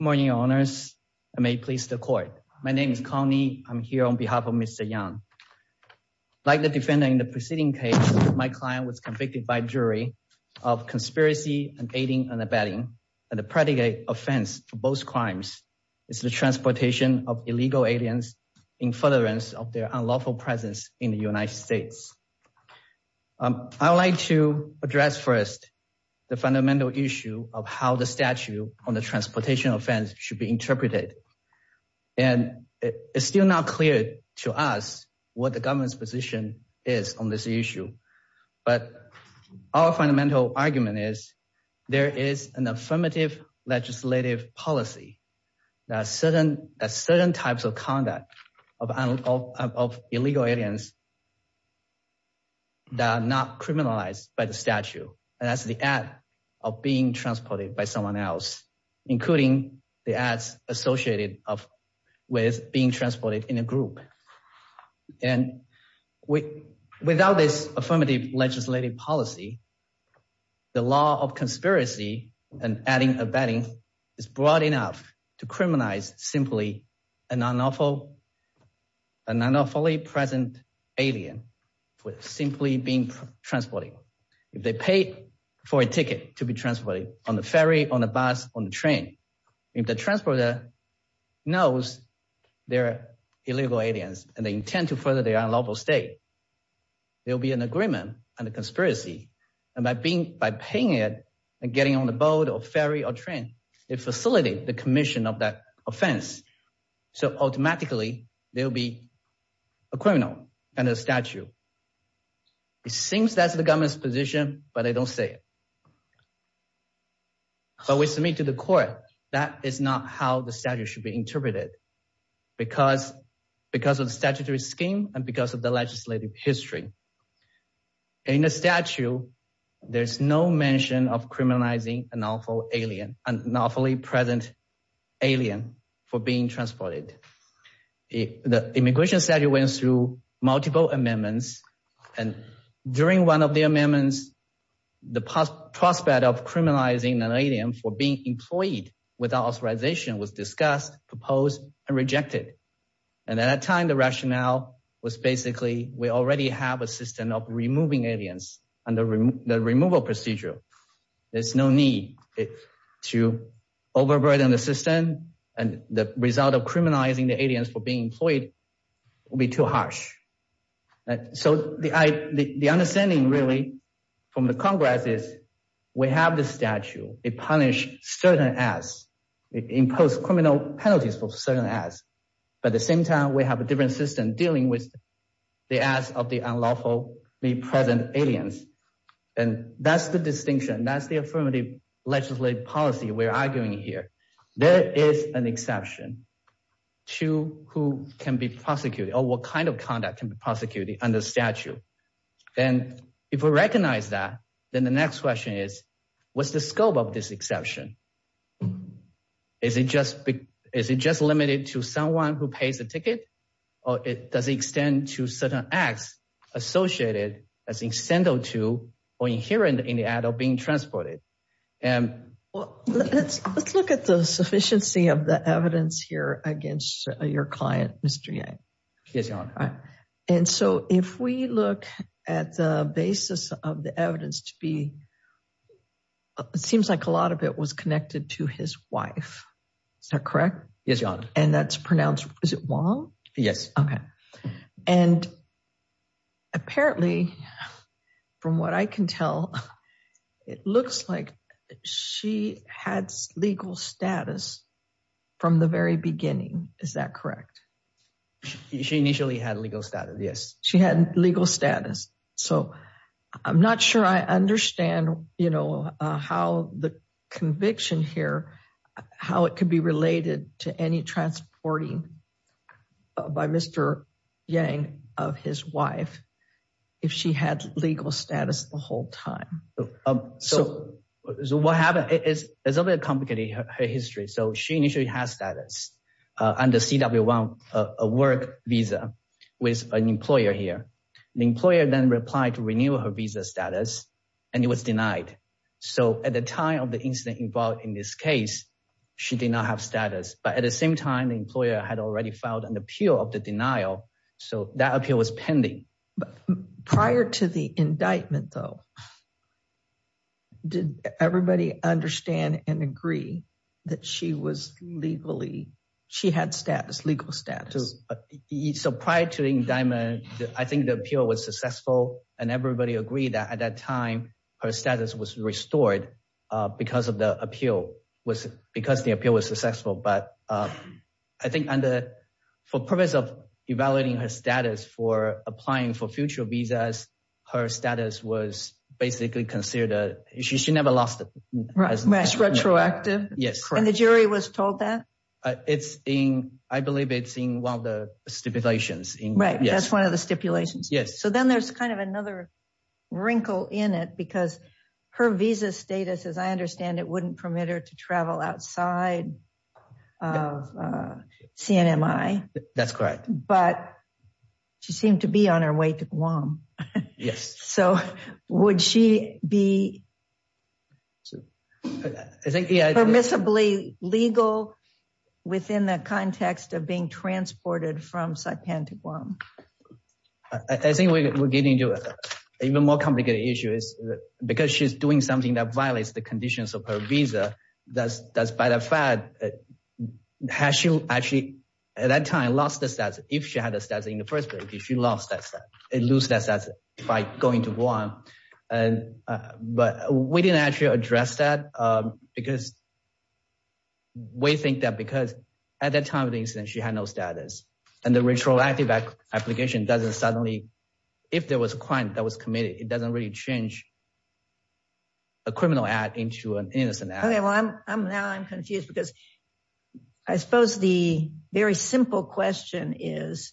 Good morning, your honors. I may please the court. My name is Connie. I'm here on behalf of Mr. Yang. Like the defendant in the preceding case, my client was convicted by jury of conspiracy and aiding and abetting, and the predicate offense for both crimes is the transportation of illegal aliens in furtherance of their unlawful presence in the United States. I would like to address first the fundamental issue of how the statute on the transportation offense should be interpreted. And it's still not clear to us what the government's position is on this issue. But our fundamental argument is there is an affirmative legislative policy that certain types of conduct of illegal aliens that are not criminalized by the statute, and that's the act of being transported by someone else, including the acts associated with being transported in a group. And without this affirmative legislative policy, the law of conspiracy and adding abetting is broad enough to criminalize simply an unlawfully present alien with simply being transported. If they paid for a ticket to be transported on the ferry, on the bus, on the train, if the transporter knows they're illegal aliens and they intend to further their unlawful stay, there'll be an agreement and a conspiracy. And by paying it and getting on the boat or ferry or train, it facilitates the commission of that offense. So automatically there'll be a criminal and a statute. It seems that's the government's position, but they don't say it. But we submit to the court that is not how the statute should be interpreted because of the statutory scheme and because of the legislative history. In the statute, there's no mention of criminalizing an unlawfully present alien for being transported. The immigration statute went through multiple amendments, and during one of the amendments, the prospect of criminalizing an alien for being employed without authorization was discussed, proposed, and rejected. And at that time, the rationale was basically we already have a system of removing aliens under the removal procedure. There's no need to overburden the system, and the result of criminalizing the aliens for being employed will be too harsh. So the understanding really from the congress is we have the statute. It punishes certain acts. It imposes criminal penalties for certain acts. But at the same time, we have a different system dealing with the acts of the unlawfully present aliens. And that's the distinction. That's the affirmative legislative policy we're arguing here. There is an exception to who can be prosecuted or what kind of conduct can be prosecuted under statute. And if we recognize that, then the next question is, what's the scope of this exception? Is it just limited to someone who pays a ticket, or does it extend to certain acts associated as incendiary to or inherent in the act of being transported? Well, let's look at the sufficiency of the evidence here against your client, Mr. Yang. Yes, Your Honor. All right. And so if we look at the basis of the evidence to be, it seems like a lot of it was connected to his wife. Is that correct? Yes, Your Honor. And that's pronounced, is it Wong? Yes. Okay. And apparently, from what I can tell, it looks like she had legal status from the very beginning. Is that correct? She initially had legal status. Yes. She had legal status. So I'm not sure I understand how the conviction here, how it could be related to any transporting by Mr. Yang of his wife, if she had legal status the whole time. So what happened is a little bit complicated, her history. So she initially has status under CW1, a work visa with an employer here. The employer then replied to renew her visa status, and it was denied. So at the time of the incident involved in this case, she did not have status. But at the same time, the employer had already filed an appeal of the denial. So that appeal was pending. Prior to the indictment, though, did everybody understand and agree that she was legally, she had status, legal status? So prior to the indictment, I think the appeal was successful, and everybody agreed that at that time, her status was restored because the appeal was successful. But I think for purpose of evaluating her status for applying for future visas, her status was basically considered, she never lost it. It's retroactive. And the jury was told that? I believe it's in one of the stipulations. Right, that's one of the stipulations. So then there's kind of another wrinkle in it, because her visa status, as I understand, it wouldn't permit her to travel outside of CNMI. That's correct. But she seemed to be on her way to Guam. Yes. So would she be permissibly legal within the context of being transported from Saipan to Guam? I think we're getting to an even more complicated issue is because she's doing something that violates the conditions of her visa, that's by the fact, has she actually at that time lost the status, if she had a status in the first place, if she lost that status, and lose that status by going to Guam. But we didn't actually address that, because we think that because at that time of the incident, she had no status, and the retroactive application doesn't suddenly, if there was a crime that was committed, it doesn't really change a criminal act into an innocent act. Now I'm confused, because I suppose the very simple question is,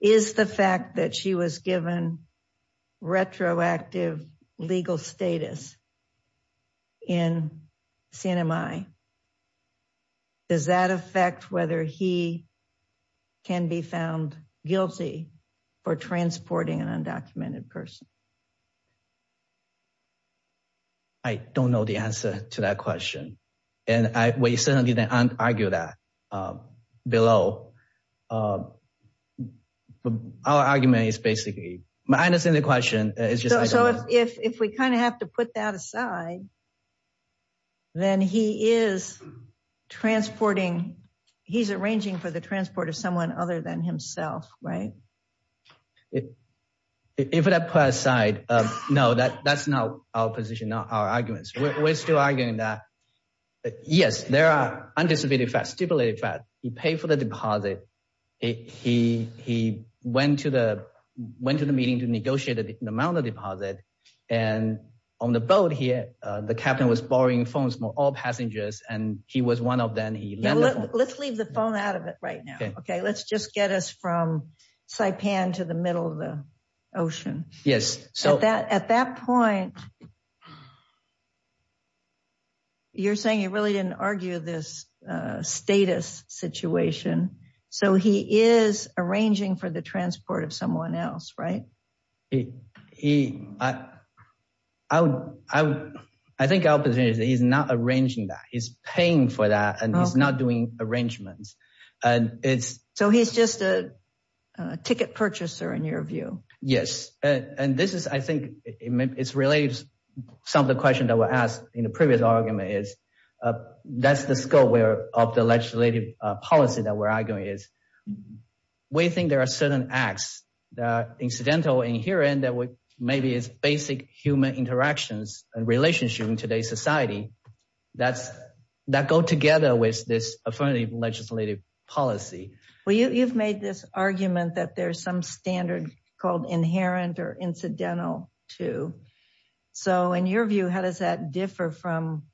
is the fact that she was given retroactive legal status in CNMI, does that affect whether he can be found guilty for transporting an undocumented person? I don't know the answer to that question. And we certainly didn't argue that below. Our argument is basically, I understand the question. So if we kind of have to put that aside, then he is transporting, he's arranging for the transport of someone other than himself, right? If we have to put that aside, no, that's not our position, not our arguments. We're still arguing that, yes, there are undisputed facts, stipulated facts. He paid for the deposit. He went to the meeting to negotiate the amount of deposit. And on the boat here, the captain was borrowing phones from all passengers, and he was one of them. Let's leave the phone out of it right now. Let's just get us from Saipan to the middle of the ocean. At that point, you're saying you really didn't argue this status situation. So he is arranging for the transport of someone else, right? I think our position is that he's not arranging that, he's paying for that, he's not doing arrangements. So he's just a ticket purchaser, in your view? Yes. And this is, I think, it's related to some of the questions that were asked in the previous argument is, that's the scope of the legislative policy that we're arguing is, we think there are certain acts that are incidental in here and that maybe is basic human interactions and relationship in today's society that go together with this affirmative legislative policy. Well, you've made this argument that there's some standard called inherent or incidental too. So in your view, how does that differ from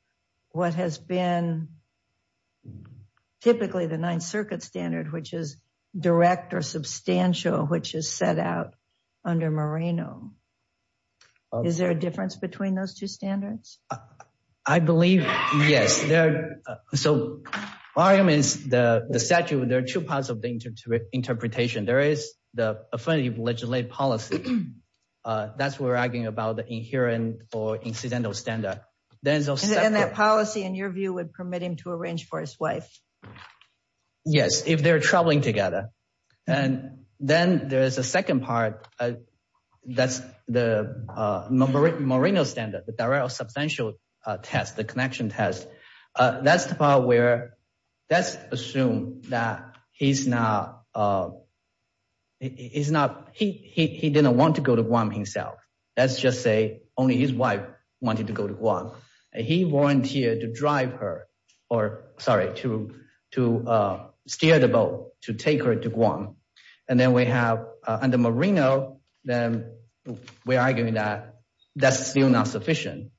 what has been typically the Ninth Circuit standard, which is direct or substantial, which is set out under Moreno? Is there a difference between those two standards? I believe, yes. So my argument is, the statute, there are two parts of the interpretation. There is the affirmative legislative policy. That's what we're arguing about the inherent or incidental standard. And that policy, in your view, would permit him to arrange for his wife? Yes, if they're traveling together. And then there is a second part. That's the Moreno standard, the direct or substantial test, the connection test. That's the part where that's assumed that he didn't want to go to Guam himself. Let's just say only his wife wanted to go to Guam. He volunteered to steer the boat to take her to Guam. And then we have under Moreno, we're arguing that that's still not sufficient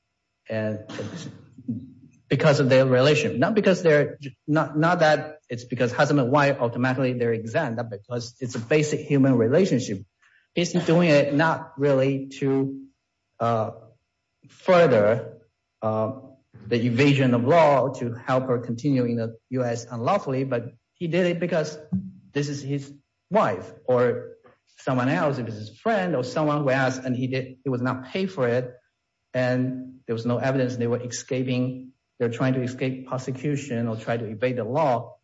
because of their relation. Not because they're, not that it's because husband and wife automatically they're exempt, because it's a basic human relationship. He's doing it not really to further the evasion of law to help her continue in the U.S. unlawfully, but he did it because this is his wife or someone else, if it's his friend or someone who asked, and he did, he was not paid for it. And there was no evidence they were escaping. They're trying to escape prosecution or try to evade the law.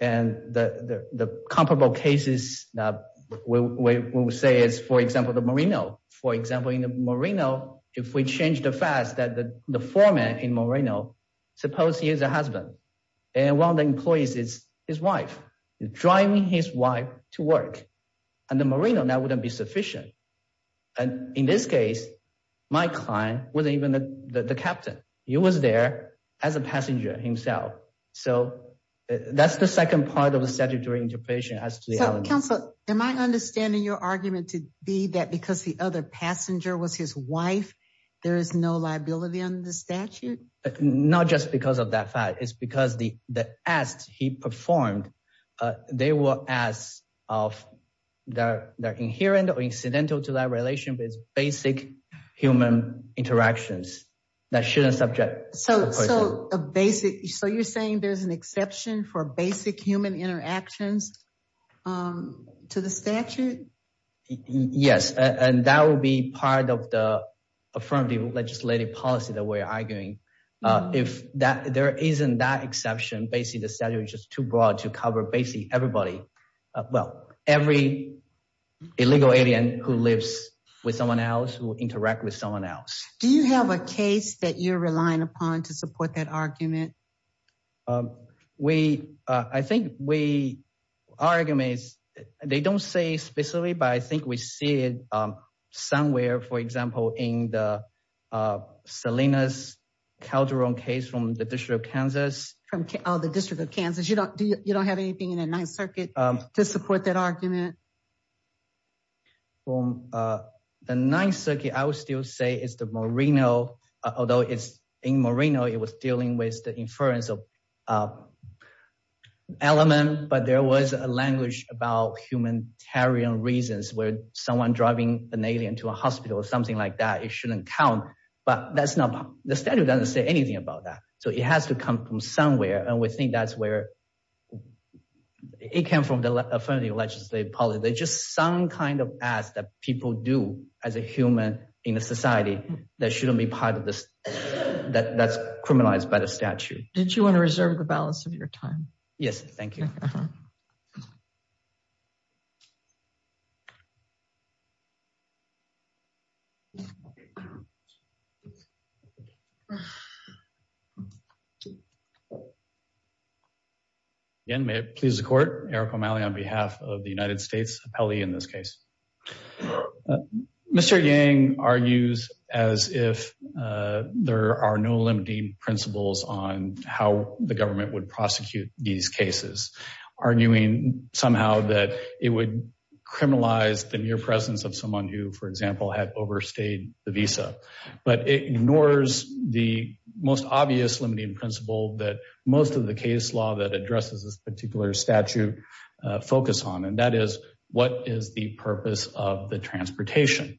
And the comparable cases we will say is, for example, the Moreno. For example, in the Moreno, if we change the fact that the foreman in Moreno, suppose he is a husband and one of the employees is his wife, driving his wife to work. And the Moreno, that wouldn't be sufficient. And in this case, my client wasn't even the captain. He was there as a passenger himself. So that's the second part of the statutory interpretation. Counselor, am I understanding your argument to be that because the other passenger was his wife, there is no liability on the statute? Not just because of that fact. It's because the acts he performed, they were acts that are inherent or incidental to that relation, basic human interactions. So you're saying there's an exception for basic human interactions to the statute? Yes. And that will be part of the affirmative legislative policy that we're arguing. If there isn't that exception, basically the statute is just too broad to cover basically everybody. Well, every illegal alien who lives with someone else, who interacts with someone else. Do you have a case that you're relying upon to support that argument? We, I think we, our argument is, they don't say specifically, but I think we see it somewhere, for example, in the Salinas Calderon case from the District of Kansas. From the District of Kansas. You don't have anything in the Ninth Circuit to support that argument? Well, the Ninth Circuit, I would still say it's the Moreno, although it's in Moreno, it was dealing with the inference of element, but there was a language about humanitarian reasons where someone driving an alien to a hospital or something like that, it shouldn't count. But that's not, the statute doesn't say anything about that. So it has to come from somewhere, and we think that's where it came from the affirmative legislative policy. There's just some kind of acts that people do as a human in a society that shouldn't be part of this, that's criminalized by the statute. Did you want to reserve the balance of your time? Yes, thank you. Again, may it please the Court, Eric O'Malley on behalf of the United States Appellee in this case. Mr. Yang argues as if there are no limiting principles on how the government would prosecute these cases, arguing somehow that it would criminalize the mere presence of someone who, for example, had overstayed the visa. But it ignores the most obvious limiting principle that most of the case law that addresses this particular statute focus on, and that is, what is the purpose of the transportation?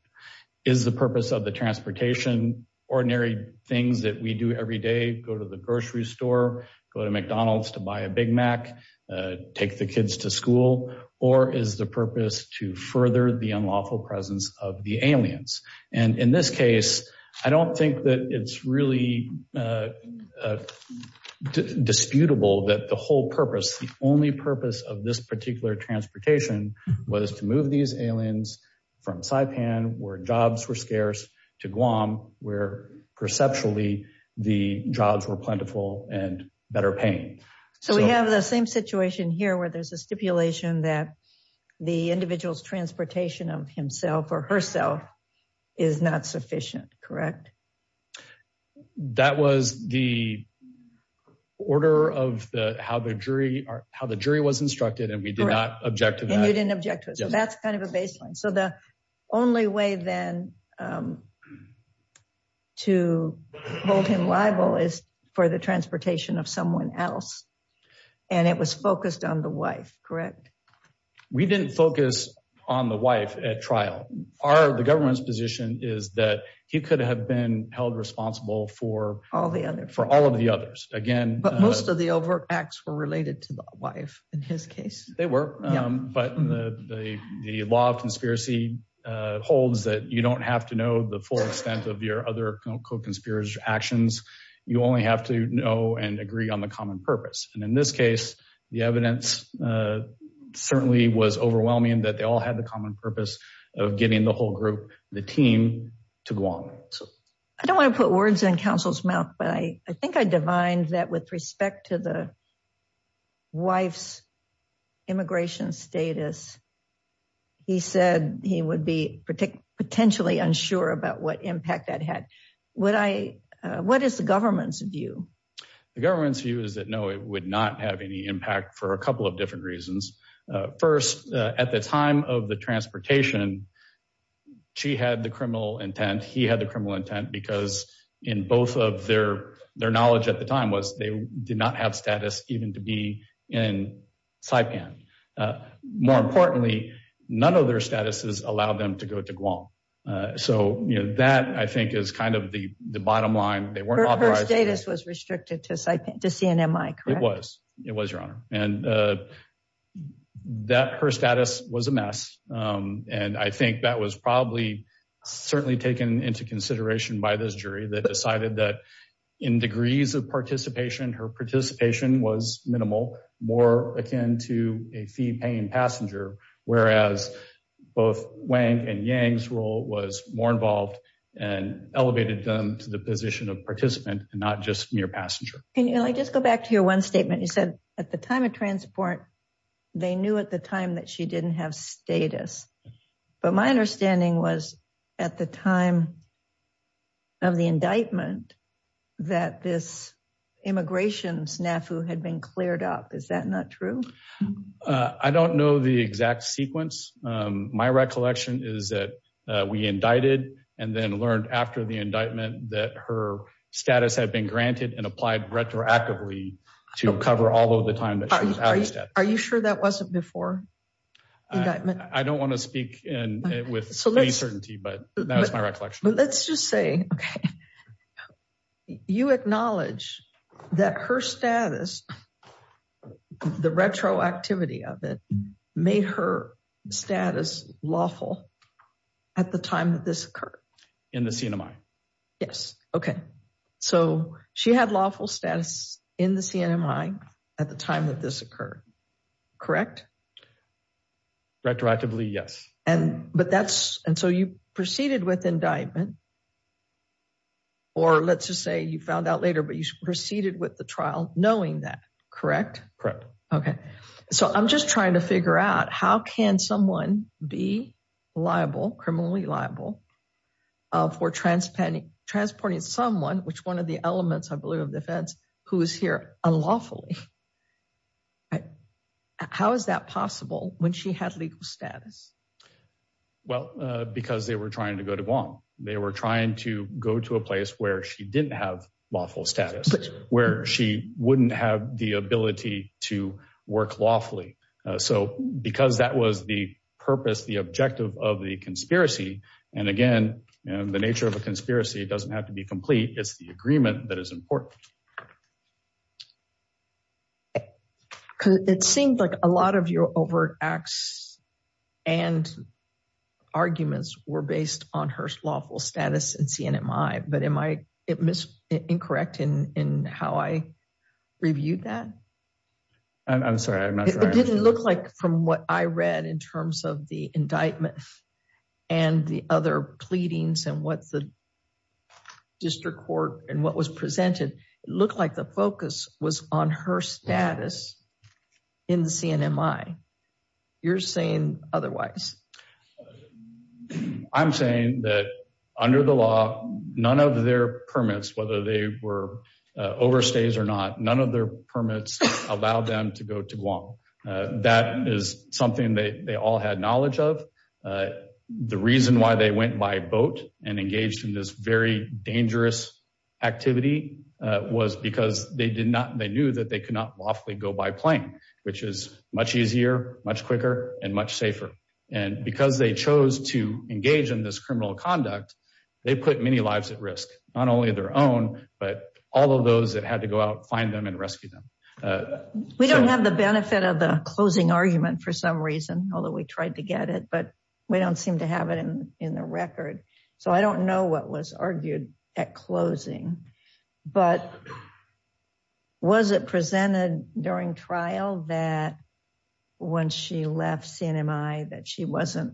Is the purpose of the transportation ordinary things that we do every day, go to the grocery store, go to McDonald's to buy a Big Mac, take the kids to or is the purpose to further the unlawful presence of the aliens? And in this case, I don't think that it's really disputable that the whole purpose, the only purpose of this particular transportation was to move these aliens from Saipan, where jobs were scarce, to Guam, where perceptually the jobs were plentiful and better paying. So we have the same situation here where there's a stipulation that the individual's transportation of himself or herself is not sufficient, correct? That was the order of how the jury was instructed, and we did not object to that. And you didn't object to it. So that's kind of a baseline. So the only way then to hold him liable is for the transportation of someone else, and it was focused on the wife, correct? We didn't focus on the wife at trial. The government's position is that he could have been held responsible for all of the others. But most of the overt acts were related to the wife in his case. They were, but the law of conspiracy holds that you don't have to know the full extent of your other co-conspirator actions. You only have to know and agree on the common purpose. And in this case, the evidence certainly was overwhelming that they all had the common purpose of getting the whole group, the team, to Guam. I don't want to put words in counsel's mouth, but I think I divined that with respect to the wife's immigration status, he said he would be potentially unsure about what impact that had. What is the government's view? The government's view is that no, it would not have any impact for a couple of different reasons. First, at the time of the transportation, she had the criminal intent, he had the criminal intent, because in both of their knowledge at the time was they did not have status even to be in Saipan. More importantly, none of their statuses allowed them to go to Guam. So, you know, that I think is kind of the bottom line. Her status was restricted to CNMI, correct? It was, it was, your honor. And her status was a mess. And I think that was probably certainly taken into consideration by this jury that decided that in degrees of participation, her participation was minimal, more akin to a fee-paying passenger, whereas both Wang and Yang's role was more involved and elevated them to the position of participant and not just mere passenger. Can I just go back to your one statement? You said at the time of transport, they knew at the time she didn't have status. But my understanding was at the time of the indictment, that this immigration snafu had been cleared up. Is that not true? I don't know the exact sequence. My recollection is that we indicted and then learned after the indictment that her status had been granted and applied retroactively to cover all of the time that she was out of status. Are you sure that wasn't before indictment? I don't want to speak with any certainty, but that was my recollection. Let's just say, okay, you acknowledge that her status, the retroactivity of it, made her status lawful at the time that this occurred? In the CNMI. Yes. Okay. So she had lawful status in the CNMI at the time that this occurred, correct? Retroactively, yes. And so you proceeded with indictment, or let's just say you found out later, but you proceeded with the trial knowing that, correct? Correct. Okay. So I'm just trying to figure out how can someone be liable, criminally liable, for transporting someone, which one of the elements, I believe, of defense, who is here unlawfully. How is that possible when she had legal status? Well, because they were trying to go to Guam. They were trying to go to a place where she didn't have lawful status, where she wouldn't have the ability to work lawfully. So because that was the purpose, the objective of the conspiracy, and again, the nature of a conspiracy doesn't have to be complete. It's the agreement that is important. It seemed like a lot of your overt acts and arguments were based on her lawful status in CNMI, but am I incorrect in how I reviewed that? I'm sorry. It didn't look from what I read in terms of the indictment and the other pleadings and what the district court and what was presented, it looked like the focus was on her status in the CNMI. You're saying otherwise. I'm saying that under the law, none of their permits, whether they were overstays or not, none of their permits allowed them to go to Guam. That is something that they all had knowledge of. The reason why they went by boat and engaged in this very dangerous activity was because they knew that they could not lawfully go by plane, which is much easier, much quicker, and much safer. And because they chose to engage in this criminal conduct, they put many lives at risk, not only their own, but all of those that had to go out, find them, and rescue them. We don't have the benefit of the closing argument for some reason, although we tried to get it, but we don't seem to have it in the record. So I don't know what was argued at closing, but was it presented during trial that when she left CNMI that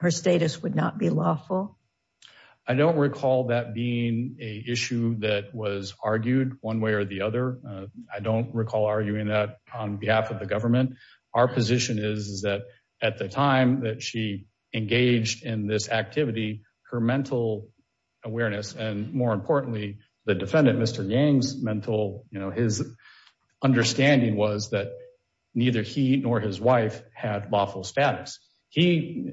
her status would not be lawful? I don't recall that being an issue that was argued one way or the other. I don't recall arguing that on behalf of the government. Our position is that at the time that she engaged in this activity, her mental awareness, and more importantly, the defendant, Mr. Yang's mental, you know, his understanding was that neither he nor his wife had lawful status. He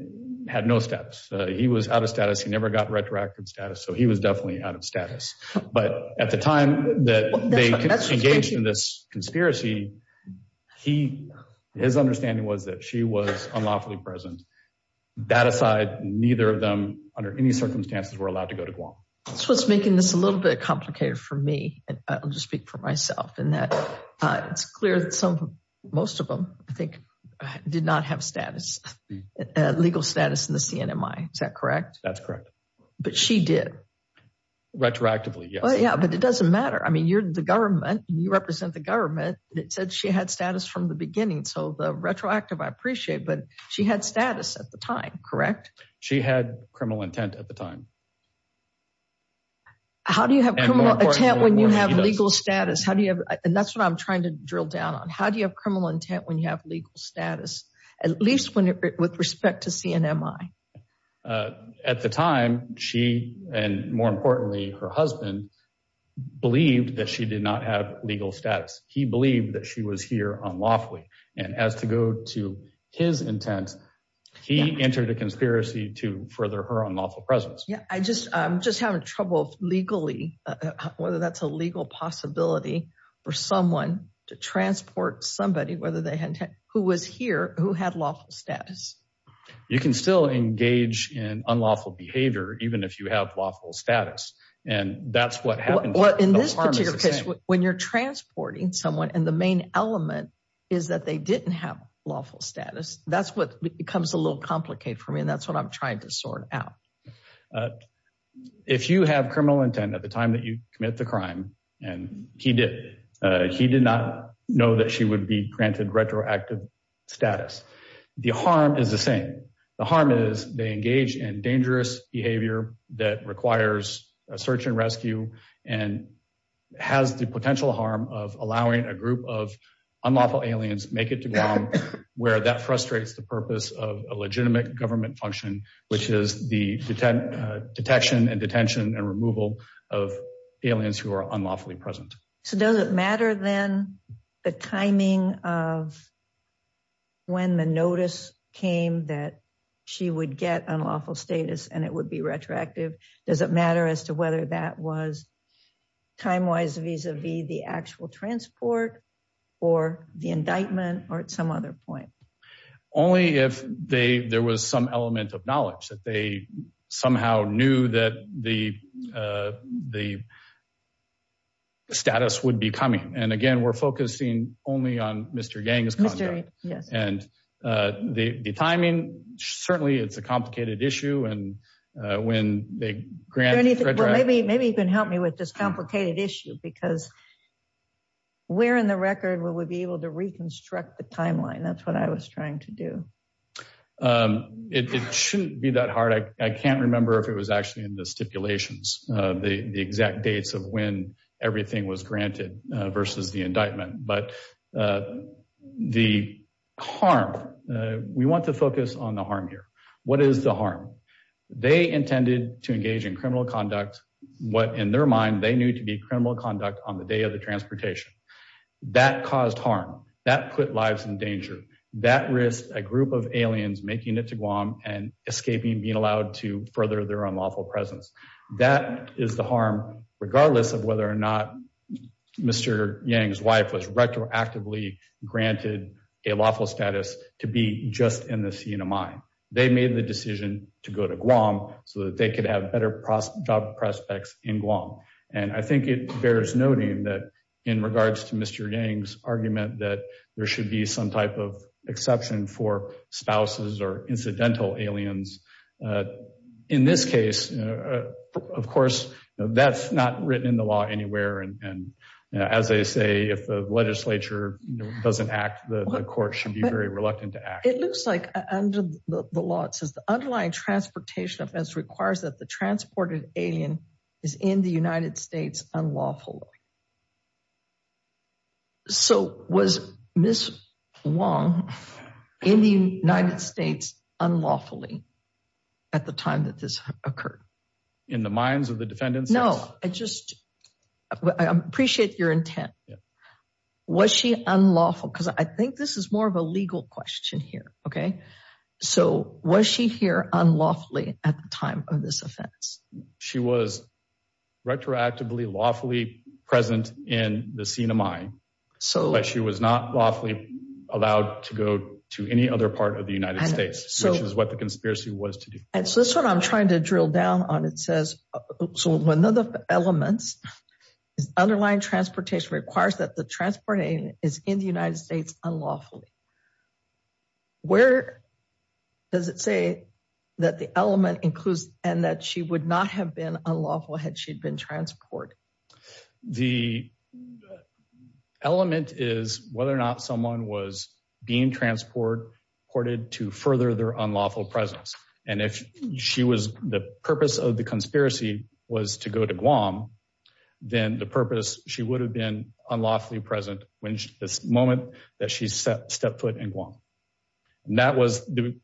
had no status. He was out of status. He never got retroactive status, so he was definitely out of status. But at the time that they engaged in this conspiracy, his understanding was that she was unlawfully present. That aside, neither of them, under any circumstances, were allowed to go to Guam. That's what's making this a little bit complicated for me, and I'll just speak for myself, in that it's clear that some, most of them, I think, did not have status, legal status in the CNMI. Is that correct? That's correct. But she did? Retroactively, yes. Yeah, but it doesn't matter. I mean, you're the government. You represent the government. It said she had status from the beginning, so the retroactive, I appreciate, but she had status at the time, correct? She had criminal intent at the time. How do you have criminal intent when you have legal status? How do you have, and that's what I'm trying to drill down on, how do you have intent when you have legal status, at least when it, with respect to CNMI? At the time, she, and more importantly, her husband, believed that she did not have legal status. He believed that she was here unlawfully, and as to go to his intent, he entered a conspiracy to further her unlawful presence. Yeah, I just, I'm just having trouble, legally, whether that's a legal possibility for someone to transport somebody, whether they had intent, who was here, who had lawful status. You can still engage in unlawful behavior, even if you have lawful status, and that's what happened. Well, in this particular case, when you're transporting someone, and the main element is that they didn't have lawful status, that's what becomes a little complicated for me, and that's what I'm trying to sort out. If you have criminal intent at the time that you commit the and he did, he did not know that she would be granted retroactive status. The harm is the same. The harm is they engage in dangerous behavior that requires a search and rescue, and has the potential harm of allowing a group of unlawful aliens make it to Guam, where that frustrates the purpose of a legitimate government function, which is the detection and detention and removal of aliens who are unlawfully present. So does it matter, then, the timing of when the notice came that she would get unlawful status, and it would be retroactive? Does it matter as to whether that was time-wise, vis-a-vis the actual transport, or the indictment, or at some other point? Only if they, there was some element of knowledge that they somehow knew that the status would be coming, and again, we're focusing only on Mr. Yang's contract, and the timing, certainly, it's a complicated issue, and when they grant it. Maybe you can help me with this complicated issue, because where in the record would we be able to reconstruct the timeline? That's what I was trying to do. It shouldn't be that hard. I can't remember if it was actually in the stipulations, the exact dates of when everything was granted versus the indictment, but the harm, we want to focus on the harm here. What is the harm? They intended to engage in criminal conduct, what in their mind they knew to be criminal conduct on the day of the transportation. That caused harm. That put lives in danger. That risked a group of aliens making it to Guam and escaping, being allowed to further their unlawful presence. That is the harm, regardless of whether or not Mr. Yang's wife was retroactively granted a lawful status to be just in the scene of mine. They made the decision to go to Guam so that they could have better job prospects in Guam, and I think it bears noting that in regards to Mr. Yang's argument that there should be some type of exception for spouses or incidental aliens. In this case, of course, that's not written in the law anywhere, and as they say, if the legislature doesn't act, the court should be very reluctant to act. It looks like under the law, it says the underlying transportation offense requires that the transported alien is in the United States unlawfully. So was Ms. Wang in the United States unlawfully at the time that this occurred? In the minds of the defendants? No, I just, I appreciate your intent. Was she unlawful? Because I think this is more of a legal question here, okay? So was she here unlawfully at the time of this offense? She was retroactively lawfully present in the scene of mine, but she was not lawfully allowed to go to any other part of the United States, which is what the conspiracy was to do. And so this is what I'm trying to drill down on. It says, so one of the elements is underlying transportation requires that the transported alien is in the United States unlawfully. Where does it say that the element includes and that she would not have been unlawful had she been transported? The element is whether or not someone was being transported to further their unlawful presence. And if she was, the purpose of the conspiracy was to go to Guam, then the purpose, she would have been unlawfully present when this moment that she stepped foot in Guam. And that was the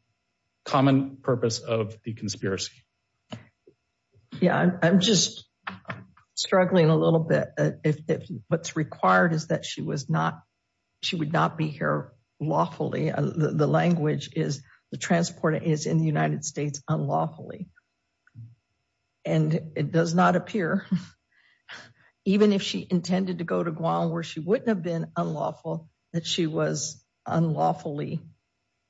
common purpose of the conspiracy. Yeah, I'm just struggling a little bit. If what's required is that she was not, she would not be here lawfully. The language is the is in the United States unlawfully. And it does not appear, even if she intended to go to Guam, where she wouldn't have been unlawful, that she was unlawfully.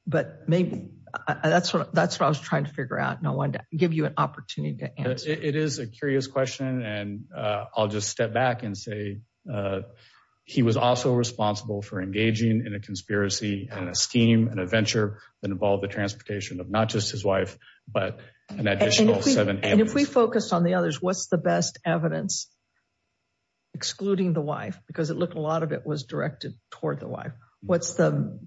But maybe that's what I was trying to figure out. And I wanted to give you an opportunity to answer. It is a curious question. And I'll just step back and say, he was also responsible for engaging in a conspiracy and a venture that involved the transportation of not just his wife, but an additional seven. And if we focus on the others, what's the best evidence excluding the wife, because it looked a lot of it was directed toward the wife. What's the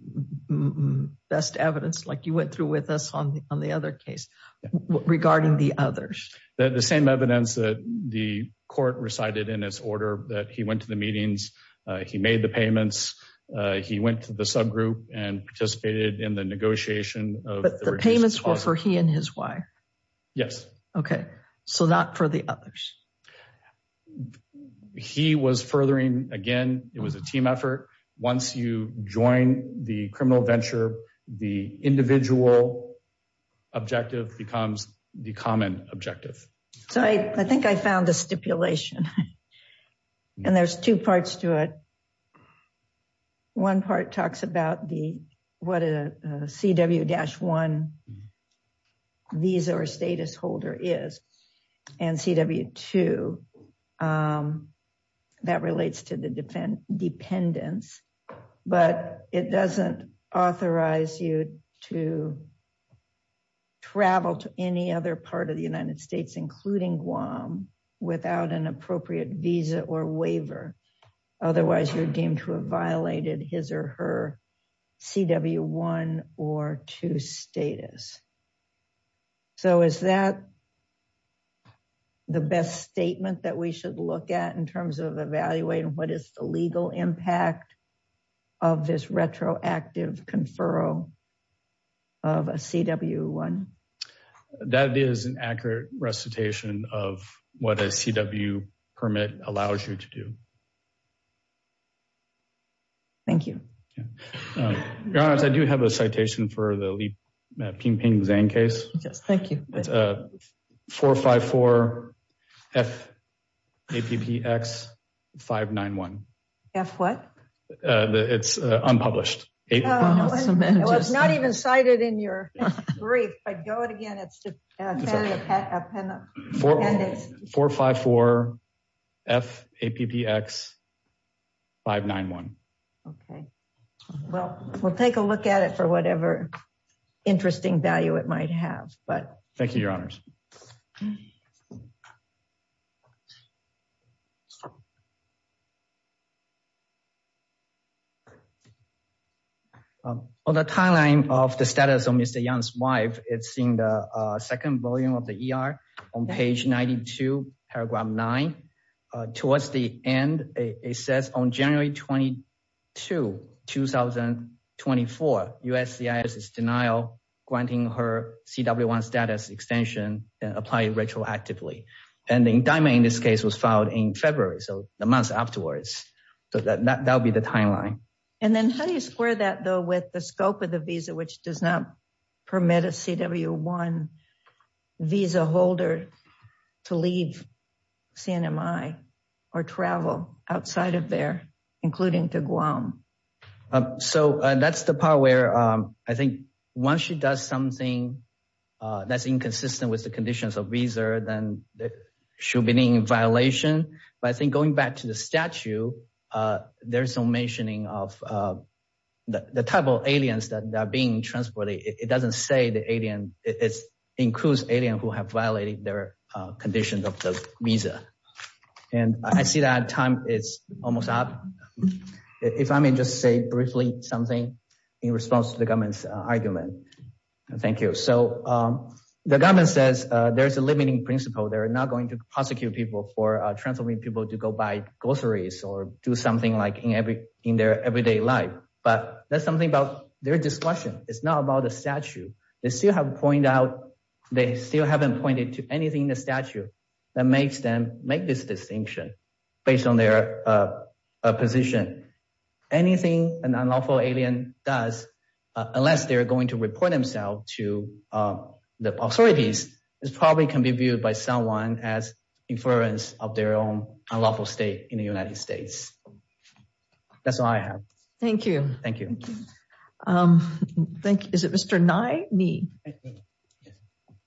best evidence like you went through with us on the other case regarding the others? The same evidence that the court recited in his order that he went to the meetings, he made the payments, he went to the subgroup and participated in the negotiation. But the payments were for he and his wife. Yes. Okay. So not for the others. He was furthering again, it was a team effort. Once you join the criminal venture, the individual objective becomes the common objective. So I think I found a stipulation. And there's two parts to it. One part talks about the what a CW-1 visa or status holder is, and CW-2 that relates to the dependents. But it doesn't authorize you to or waiver. Otherwise, you're deemed to have violated his or her CW-1 or 2 status. So is that the best statement that we should look at in terms of evaluating what is the legal impact of this retroactive conferral of a CW-1? That is an accurate recitation of what a CW permit allows you to do. Thank you. Your Honor, I do have a citation for the Li Pingping Zhang case. Yes, thank you. It's a 454-F-APPX-591. F what? It's unpublished. It was not even cited in your brief. If I go it again, it's 454-F-APPX-591. Okay. Well, we'll take a look at it for whatever interesting value it might have. Thank you, Your Honors. On the timeline of the status of Mr. Yang's wife, it's in the second volume of the ER on page 92, paragraph 9. Towards the end, it says on January 22, 2024, USCIS is in denial granting her CW-1 status extension and apply it retroactively. And the indictment in this case was filed in February, so a month afterwards. So that would be the timeline. And then how do you square that though with the scope of the visa, which does not permit a CW-1 visa holder to leave CNMI or travel outside of there, including to Guam? So that's the part where I think once she does something that's inconsistent with the conditions of visa, then she'll be in violation. But I think going back to the statute, there's no mentioning of the type of aliens that are being transported. It doesn't say the alien. It includes aliens who have violated their conditions of the visa. And I see that time is almost up. If I may just say briefly something in response to the government's argument. Thank you. So the government says there's a limiting principle. They're not going to prosecute people for transferring people to go buy groceries or do something like in their everyday life. But that's something about their discussion. It's not about the statute. They still haven't pointed to anything in the statute that makes them make this distinction based on their position. Anything an unlawful alien does, unless they're going to report themselves to the authorities, is probably can be viewed by someone as inference of their own unlawful state in the United States. That's all I have. Thank you. Thank you. Thank you. Is it Mr. Nye?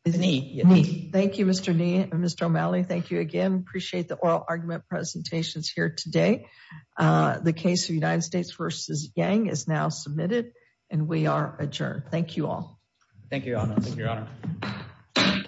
Thank you, Mr. Nye and Mr. O'Malley. Thank you again. Appreciate the oral argument presentations here today. The case of United States versus Yang is now submitted and we are adjourned. Thank you all. Thank you, Your Honor.